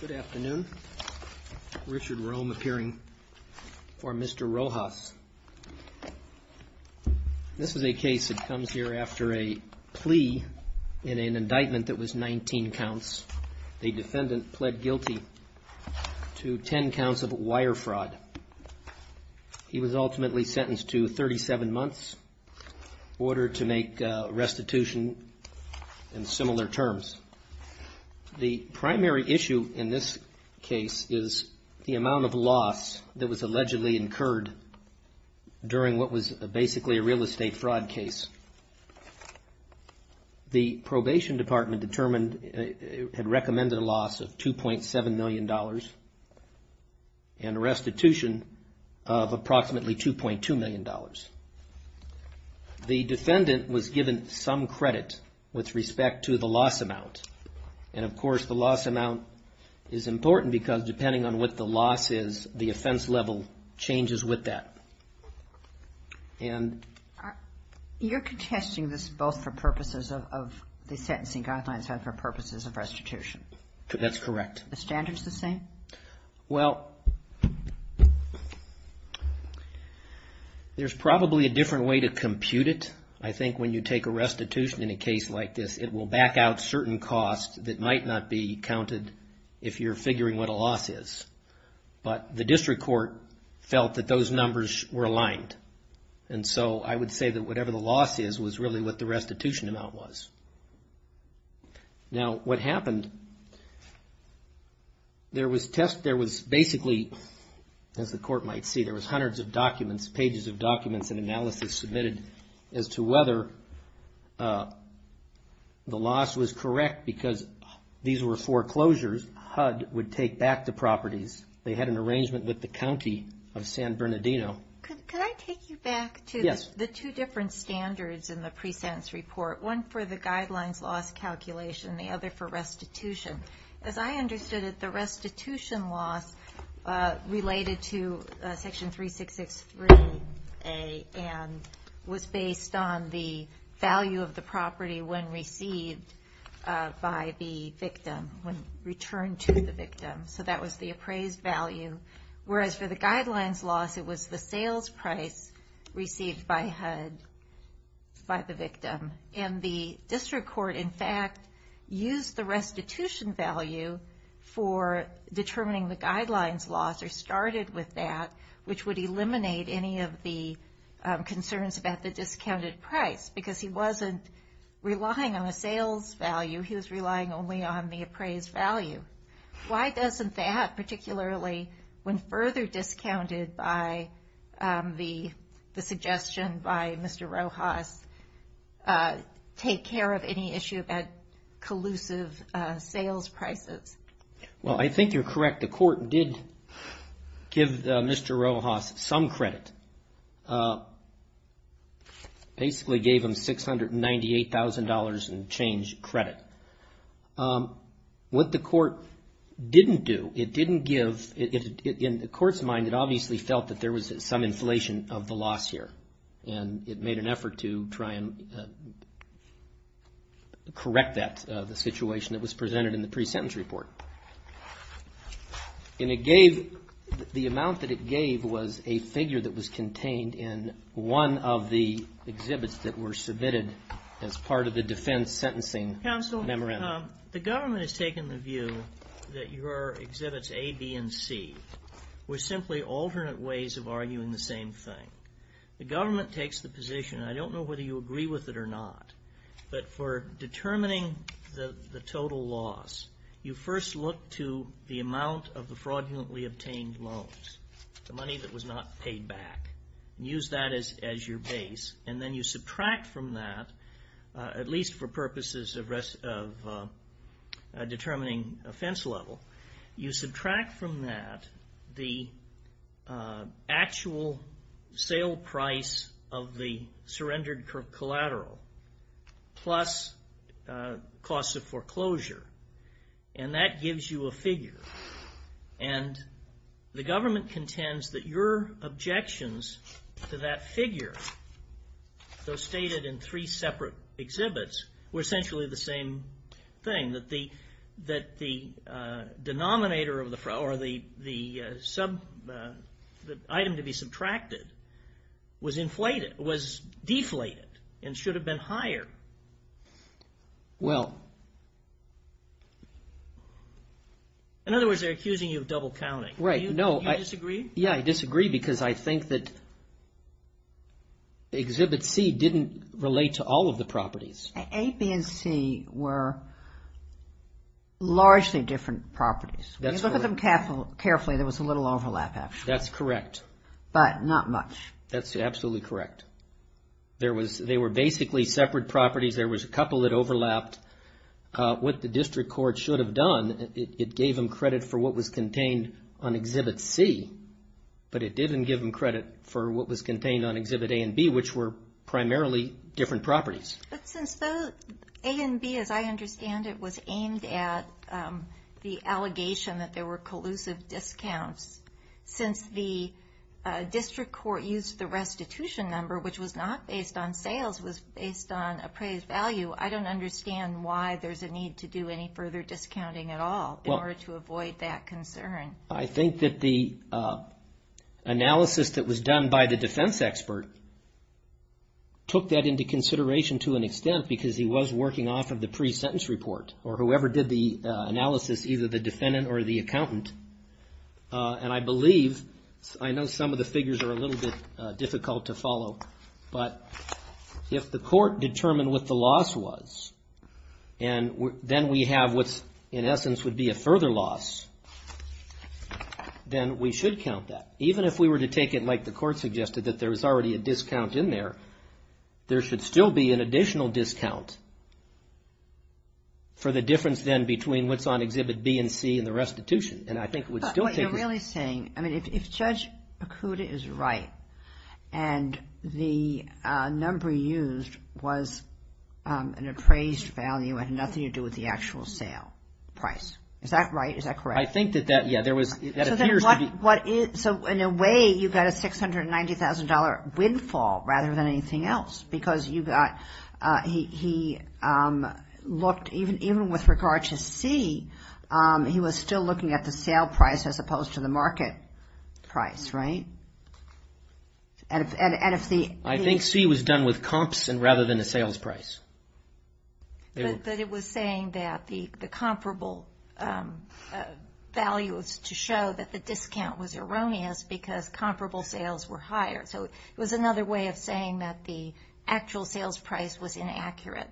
Good afternoon. Richard Rome appearing for Mr. Rojas. This is a case that comes here after a plea in an indictment that was 19 counts. The defendant pled guilty to 10 counts of wire fraud. He was ultimately sentenced to 37 months, ordered to make restitution in similar terms. The primary issue in this case is the amount of loss that was allegedly incurred during what was basically a real estate fraud case. The probation department determined it had recommended a loss of $2.7 million and a restitution of approximately $2.2 million. The defendant was given some credit with respect to the loss amount. And, of course, the loss amount is important because depending on what the loss is, the offense level changes with that. And... You're contesting this both for purposes of the sentencing guidelines and for purposes of restitution. That's correct. Are the standards the same? Well, there's probably a different way to compute it. I think when you take a restitution in a case like this, it will back out certain costs that might not be counted if you're figuring what a loss is. But the district court felt that those numbers were aligned. And so I would say that whatever the loss is was really what the restitution amount was. Now, what happened, there was test... There was basically, as the court might see, there was hundreds of documents, pages of documents and analysis submitted as to whether the loss was correct because these were foreclosures HUD would take back the properties. They had an arrangement with the county of San Bernardino. Could I take you back to the two different standards in the pre-sentence report? One for the guidelines loss calculation and the other for restitution. As I understood it, the restitution loss related to Section 3663A and was based on the value of the property when received by the victim, when returned to the victim. So that was the appraised value. Whereas for the guidelines loss, it was the sales price received by HUD by the victim. And the district court, in fact, used the restitution value for determining the guidelines loss or started with that, which would eliminate any of the concerns about the discounted price. Because he wasn't relying on a sales value, he was relying only on the appraised value. Why doesn't that, particularly when further discounted by the suggestion by Mr. Rojas, take care of any issue about collusive sales prices? Well, I think you're correct. The court did give Mr. Rojas some credit. Basically gave him $698,000 in change credit. What the court didn't do, it didn't give, in the court's mind, it obviously felt that there was some inflation of the loss here. And it made an effort to try and correct that, the situation that was presented in the pre-sentence report. And it gave, the amount that it gave was a figure that was contained in one of the exhibits that were submitted as part of the defense sentencing memorandum. Tom, the government has taken the view that your exhibits A, B, and C were simply alternate ways of arguing the same thing. The government takes the position, I don't know whether you agree with it or not, but for determining the total loss, you first look to the amount of the fraudulently obtained loans, the money that was not paid back. Use that as your base. And then you subtract from that, at least for purposes of determining offense level, you subtract from that the actual sale price of the surrendered collateral plus costs of foreclosure. And that gives you a figure. And the government contends that your objections to that figure, though stated in three separate exhibits, were essentially the same thing. That the item to be subtracted was deflated and should have been higher. In other words, they're accusing you of double counting. Do you disagree? Yeah, I disagree because I think that exhibit C didn't relate to all of the properties. A, B, and C were largely different properties. When you look at them carefully, there was a little overlap, actually. That's correct. But not much. That's absolutely correct. They were basically separate properties. There was a couple that overlapped. What the district court should have done, it gave them credit for what was contained on exhibit C, but it didn't give them credit for what was contained on exhibit A and B, which were primarily different properties. But since A and B, as I understand it, was aimed at the allegation that there were collusive discounts, since the district court used the restitution number, which was not based on sales, it was based on appraised value, I don't understand why there's a need to do any further discounting at all in order to avoid that concern. I think that the analysis that was done by the defense expert took that into consideration to an extent because he was working off of the pre-sentence report, or whoever did the analysis, either the defendant or the accountant. And I believe, I know some of the figures are a little bit difficult to follow, but if the court determined what the loss was, and then we have what in essence would be a further loss, then we should count that. Even if we were to take it like the court suggested, that there was already a discount in there, there should still be an additional discount for the difference then between what's on exhibit B and C and the restitution. And I think it would still take... But what you're really saying, I mean, if Judge Pakuda is right, and the number used was an appraised value, it had nothing to do with the actual sale price. Is that right? Is that correct? I think that that, yeah, there was... So in a way, you got a $690,000 windfall rather than anything else, because you got, he looked, even with regard to C, he was still looking at the sale price as opposed to the market price, right? And if the... I think C was done with comps rather than a sales price. But it was saying that the comparable value was to show that the discount was erroneous because comparable sales were higher. So it was another way of saying that the actual sales price was inaccurate.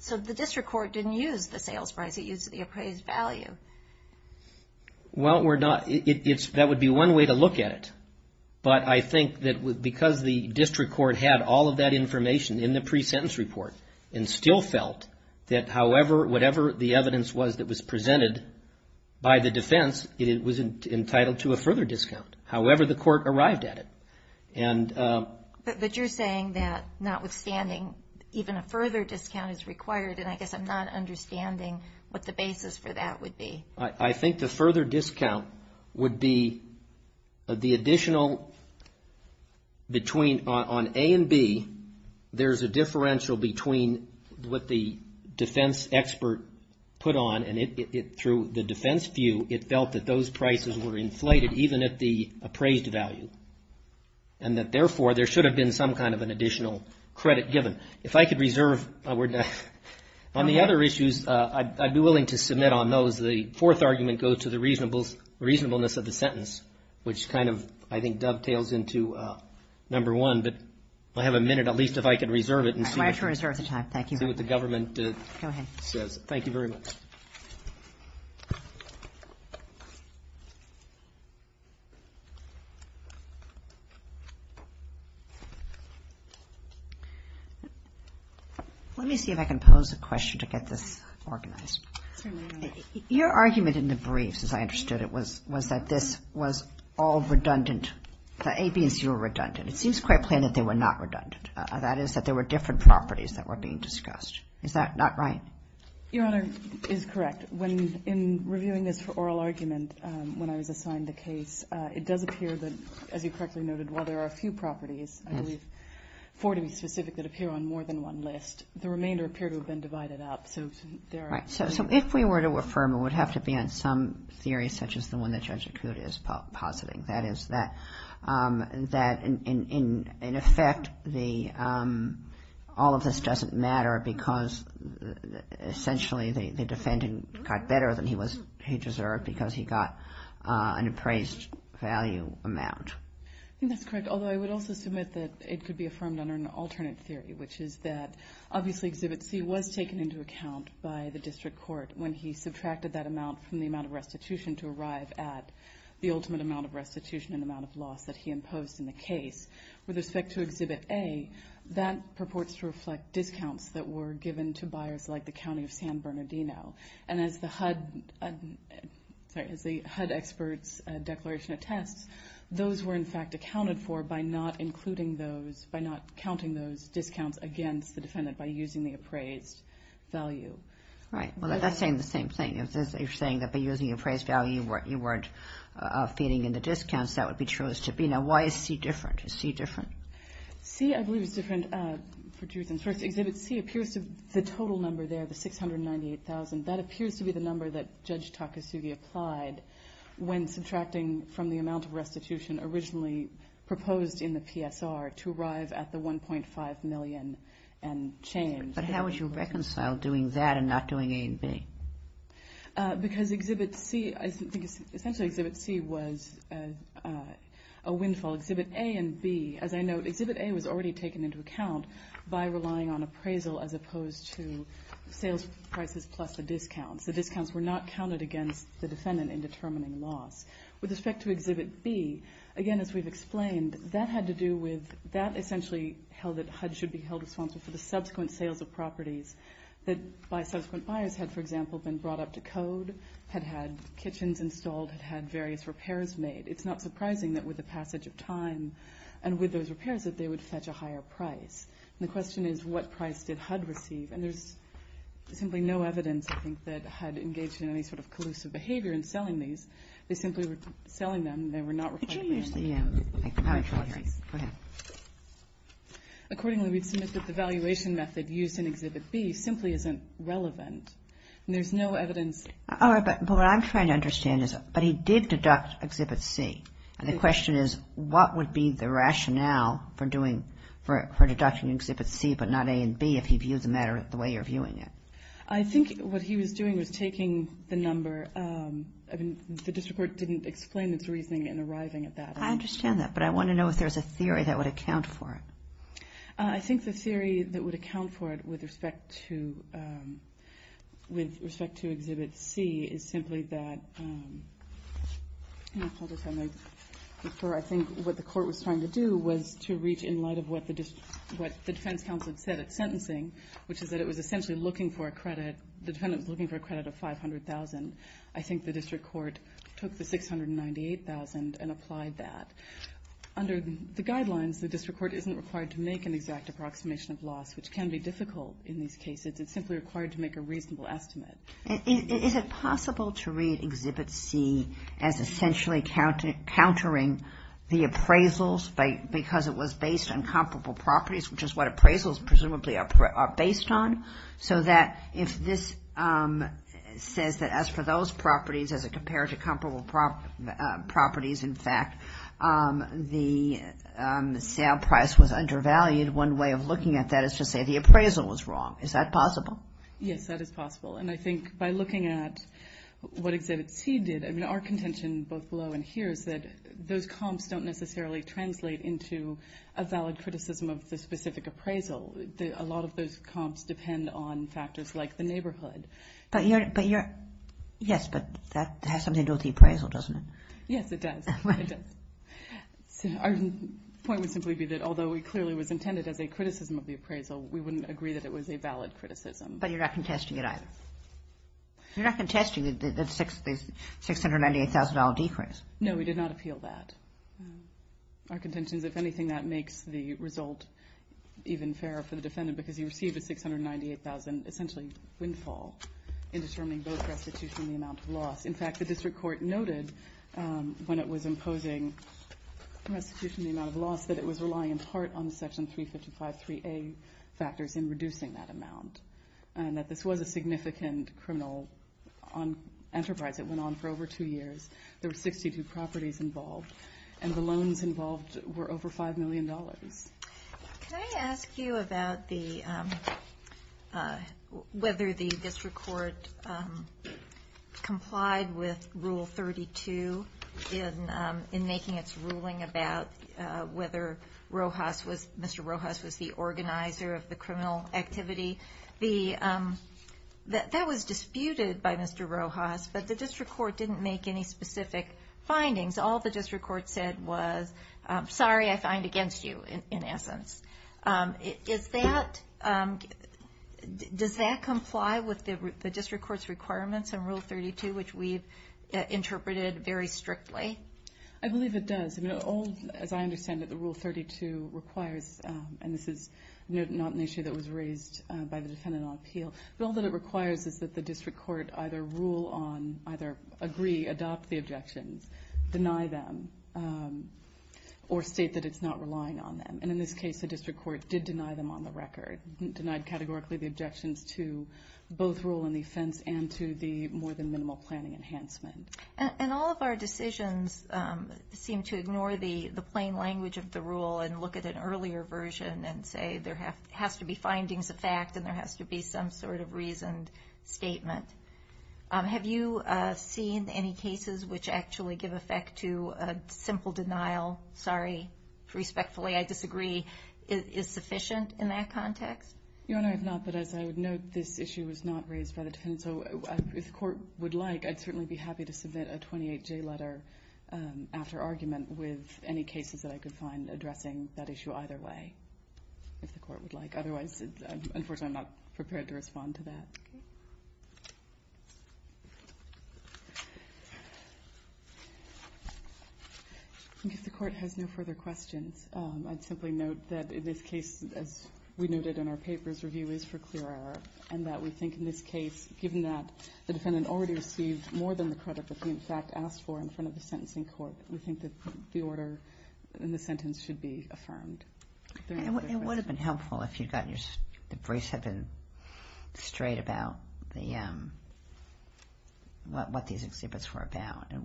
So the district court didn't use the sales price, it used the appraised value. Well, we're not... That would be one way to look at it. But I think that because the district court had all of that information in the pre-sentence report and still felt that however, whatever the evidence was that was presented by the defense, it was entitled to a further discount, however the court arrived at it. But you're saying that notwithstanding, even a further discount is required, and I guess I'm not understanding what the basis for that would be. I think the further discount would be the additional between... On A and B, there's a differential between what the defense expert put on and through the defense view, it felt that those prices were inflated even at the appraised value. And that therefore, there should have been some kind of an additional credit given. On the other issues, I'd be willing to submit on those. The fourth argument goes to the reasonableness of the sentence, which kind of, I think, dovetails into number one. But I have a minute, at least, if I could reserve it and see what the government says. I'm glad to reserve the time. Thank you. Go ahead. Thank you very much. Let me see if I can pose a question to get this organized. Your argument in the briefs, as I understood it, was that this was all redundant, that A, B, and C were redundant. It seems quite plain that they were not redundant. That is, that there were different properties that were being discussed. Is that not right? It is correct. In reviewing this for oral argument, when I was assigned the case, it does appear that, as you correctly noted, while there are a few properties, I believe four to be specific, that appear on more than one list, the remainder appear to have been divided up. So there are… Right. So if we were to affirm, it would have to be on some theory, such as the one that Judge Acuda is positing. That is, that in effect, all of this doesn't matter because essentially the defendant got better than he deserved because he got an appraised value amount. I think that's correct, although I would also submit that it could be affirmed under an alternate theory, which is that obviously Exhibit C was taken into account by the district court when he subtracted that amount from the amount of restitution to arrive at the ultimate amount of restitution and amount of loss that he imposed in the case. With respect to Exhibit A, that purports to reflect discounts that were given to buyers like the County of San Bernardino. And as the HUD experts' declaration attests, those were in fact accounted for by not including those, by not counting those discounts against the defendant by using the appraised value. Right. Well, that's saying the same thing. You're saying that by using appraised value, you weren't feeding in the discounts. That would be true as to B. Now, why is C different? Is C different? C, I believe, is different for two reasons. First, Exhibit C appears to be the total number there, the $698,000. That appears to be the number that Judge Takasugi applied when subtracting from the amount of restitution originally proposed in the PSR to arrive at the $1.5 million and change. But how would you reconcile doing that and not doing A and B? Because Exhibit C, I think essentially Exhibit C was a windfall. Exhibit A and B, as I note, Exhibit A was already taken into account by relying on appraisal as opposed to sales prices plus the discounts. The discounts were not counted against the defendant in determining loss. With respect to Exhibit B, again, as we've explained, that had to do with that essentially held that HUD should be held responsible for the subsequent sales of properties that by subsequent buyers had, for example, been brought up to code, had had kitchens installed, had had various repairs made. It's not surprising that with the passage of time and with those repairs that they would fetch a higher price. And the question is what price did HUD receive? And there's simply no evidence, I think, that HUD engaged in any sort of collusive behavior in selling these. They simply were selling them. They were not required to pay. Could you use the microphone here? Go ahead. Accordingly, we've submitted that the valuation method used in Exhibit B simply isn't relevant. And there's no evidence. All right. But what I'm trying to understand is, but he did deduct Exhibit C. And the question is what would be the rationale for doing, for deducting Exhibit C but not A and B if he views the matter the way you're viewing it? I think what he was doing was taking the number. I mean, the district court didn't explain its reasoning in arriving at that. I understand that. But I want to know if there's a theory that would account for it. I think the theory that would account for it with respect to Exhibit C is simply that, hold this for me, for I think what the court was trying to do was to reach in light of what the defense counsel had said at sentencing, which is that it was essentially looking for a credit, the defendant was looking for a credit of $500,000. I think the district court took the $698,000 and applied that. Under the guidelines, the district court isn't required to make an exact approximation of loss, which can be difficult in these cases. It's simply required to make a reasonable estimate. Is it possible to read Exhibit C as essentially countering the appraisals because it was based on comparable properties, which is what appraisals presumably are based on, so that if this says that as for those properties, as it compared to comparable properties, in fact, the sale price was undervalued, one way of looking at that is to say the appraisal was wrong. Is that possible? Yes, that is possible. And I think by looking at what Exhibit C did, I mean, our contention both below and here is that those comps don't necessarily translate into a valid criticism of the specific appraisal. A lot of those comps depend on factors like the neighborhood. Yes, but that has something to do with the appraisal, doesn't it? Yes, it does. Our point would simply be that although it clearly was intended as a criticism of the appraisal, we wouldn't agree that it was a valid criticism. But you're not contesting it either. You're not contesting the $698,000 decrease. No, we did not appeal that. Our contention is, if anything, that makes the result even fairer for the defendant because he received a $698,000 essentially windfall in determining both restitution and the amount of loss. In fact, the district court noted when it was imposing restitution and the amount of loss that it was relying in part on Section 355.3a factors in reducing that amount and that this was a significant criminal enterprise. It went on for over two years. There were 62 properties involved, and the loans involved were over $5 million. Can I ask you about whether the district court complied with Rule 32 in making its ruling about whether Mr. Rojas was the organizer of the criminal activity? That was disputed by Mr. Rojas, but the district court didn't make any specific findings. All the district court said was, sorry, I find against you, in essence. Does that comply with the district court's requirements in Rule 32, which we've interpreted very strictly? I believe it does. As I understand it, the Rule 32 requires, and this is not an issue that was raised by the defendant on appeal, but all that it requires is that the district court either agree, adopt the objections, deny them, or state that it's not relying on them. In this case, the district court did deny them on the record, denied categorically the objections to both Rule and the offense and to the more-than-minimal planning enhancement. And all of our decisions seem to ignore the plain language of the Rule and look at an earlier version and say there has to be findings of fact and there has to be some sort of reasoned statement. Have you seen any cases which actually give effect to a simple denial, sorry, respectfully I disagree, is sufficient in that context? Your Honor, I have not, but as I would note, this issue was not raised by the defendant. And so if the court would like, I'd certainly be happy to submit a 28-J letter after argument with any cases that I could find addressing that issue either way, if the court would like. Otherwise, unfortunately, I'm not prepared to respond to that. If the court has no further questions, I'd simply note that in this case, as we noted in our papers, review is for clear error, and that we think in this case, given that the defendant already received more than the credit that he in fact asked for in front of the sentencing court, we think that the order in the sentence should be affirmed. It would have been helpful if the briefs had been straight about what these exhibits were about. It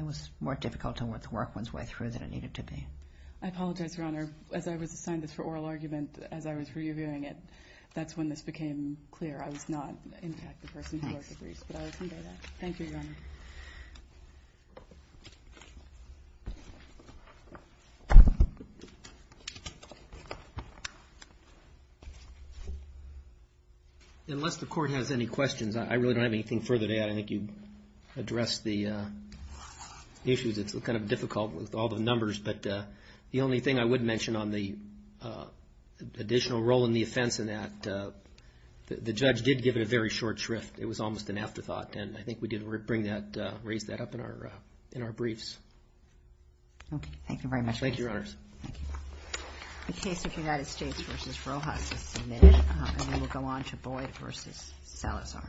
was more difficult to work one's way through than it needed to be. I apologize, Your Honor. As I was assigned this for oral argument, as I was reviewing it, that's when this became clear I was not in fact the person who ordered the briefs. But I will convey that. Thank you, Your Honor. Unless the court has any questions, I really don't have anything further to add. I think you addressed the issues. It's kind of difficult with all the numbers. But the only thing I would mention on the additional role in the offense in that, the judge did give it a very short shrift. It was almost an afterthought. And I think we did raise that up in our briefs. Okay. Thank you very much. Thank you, Your Honors. The case of United States v. Rojas is submitted. And then we'll go on to Boyd v. Salazar.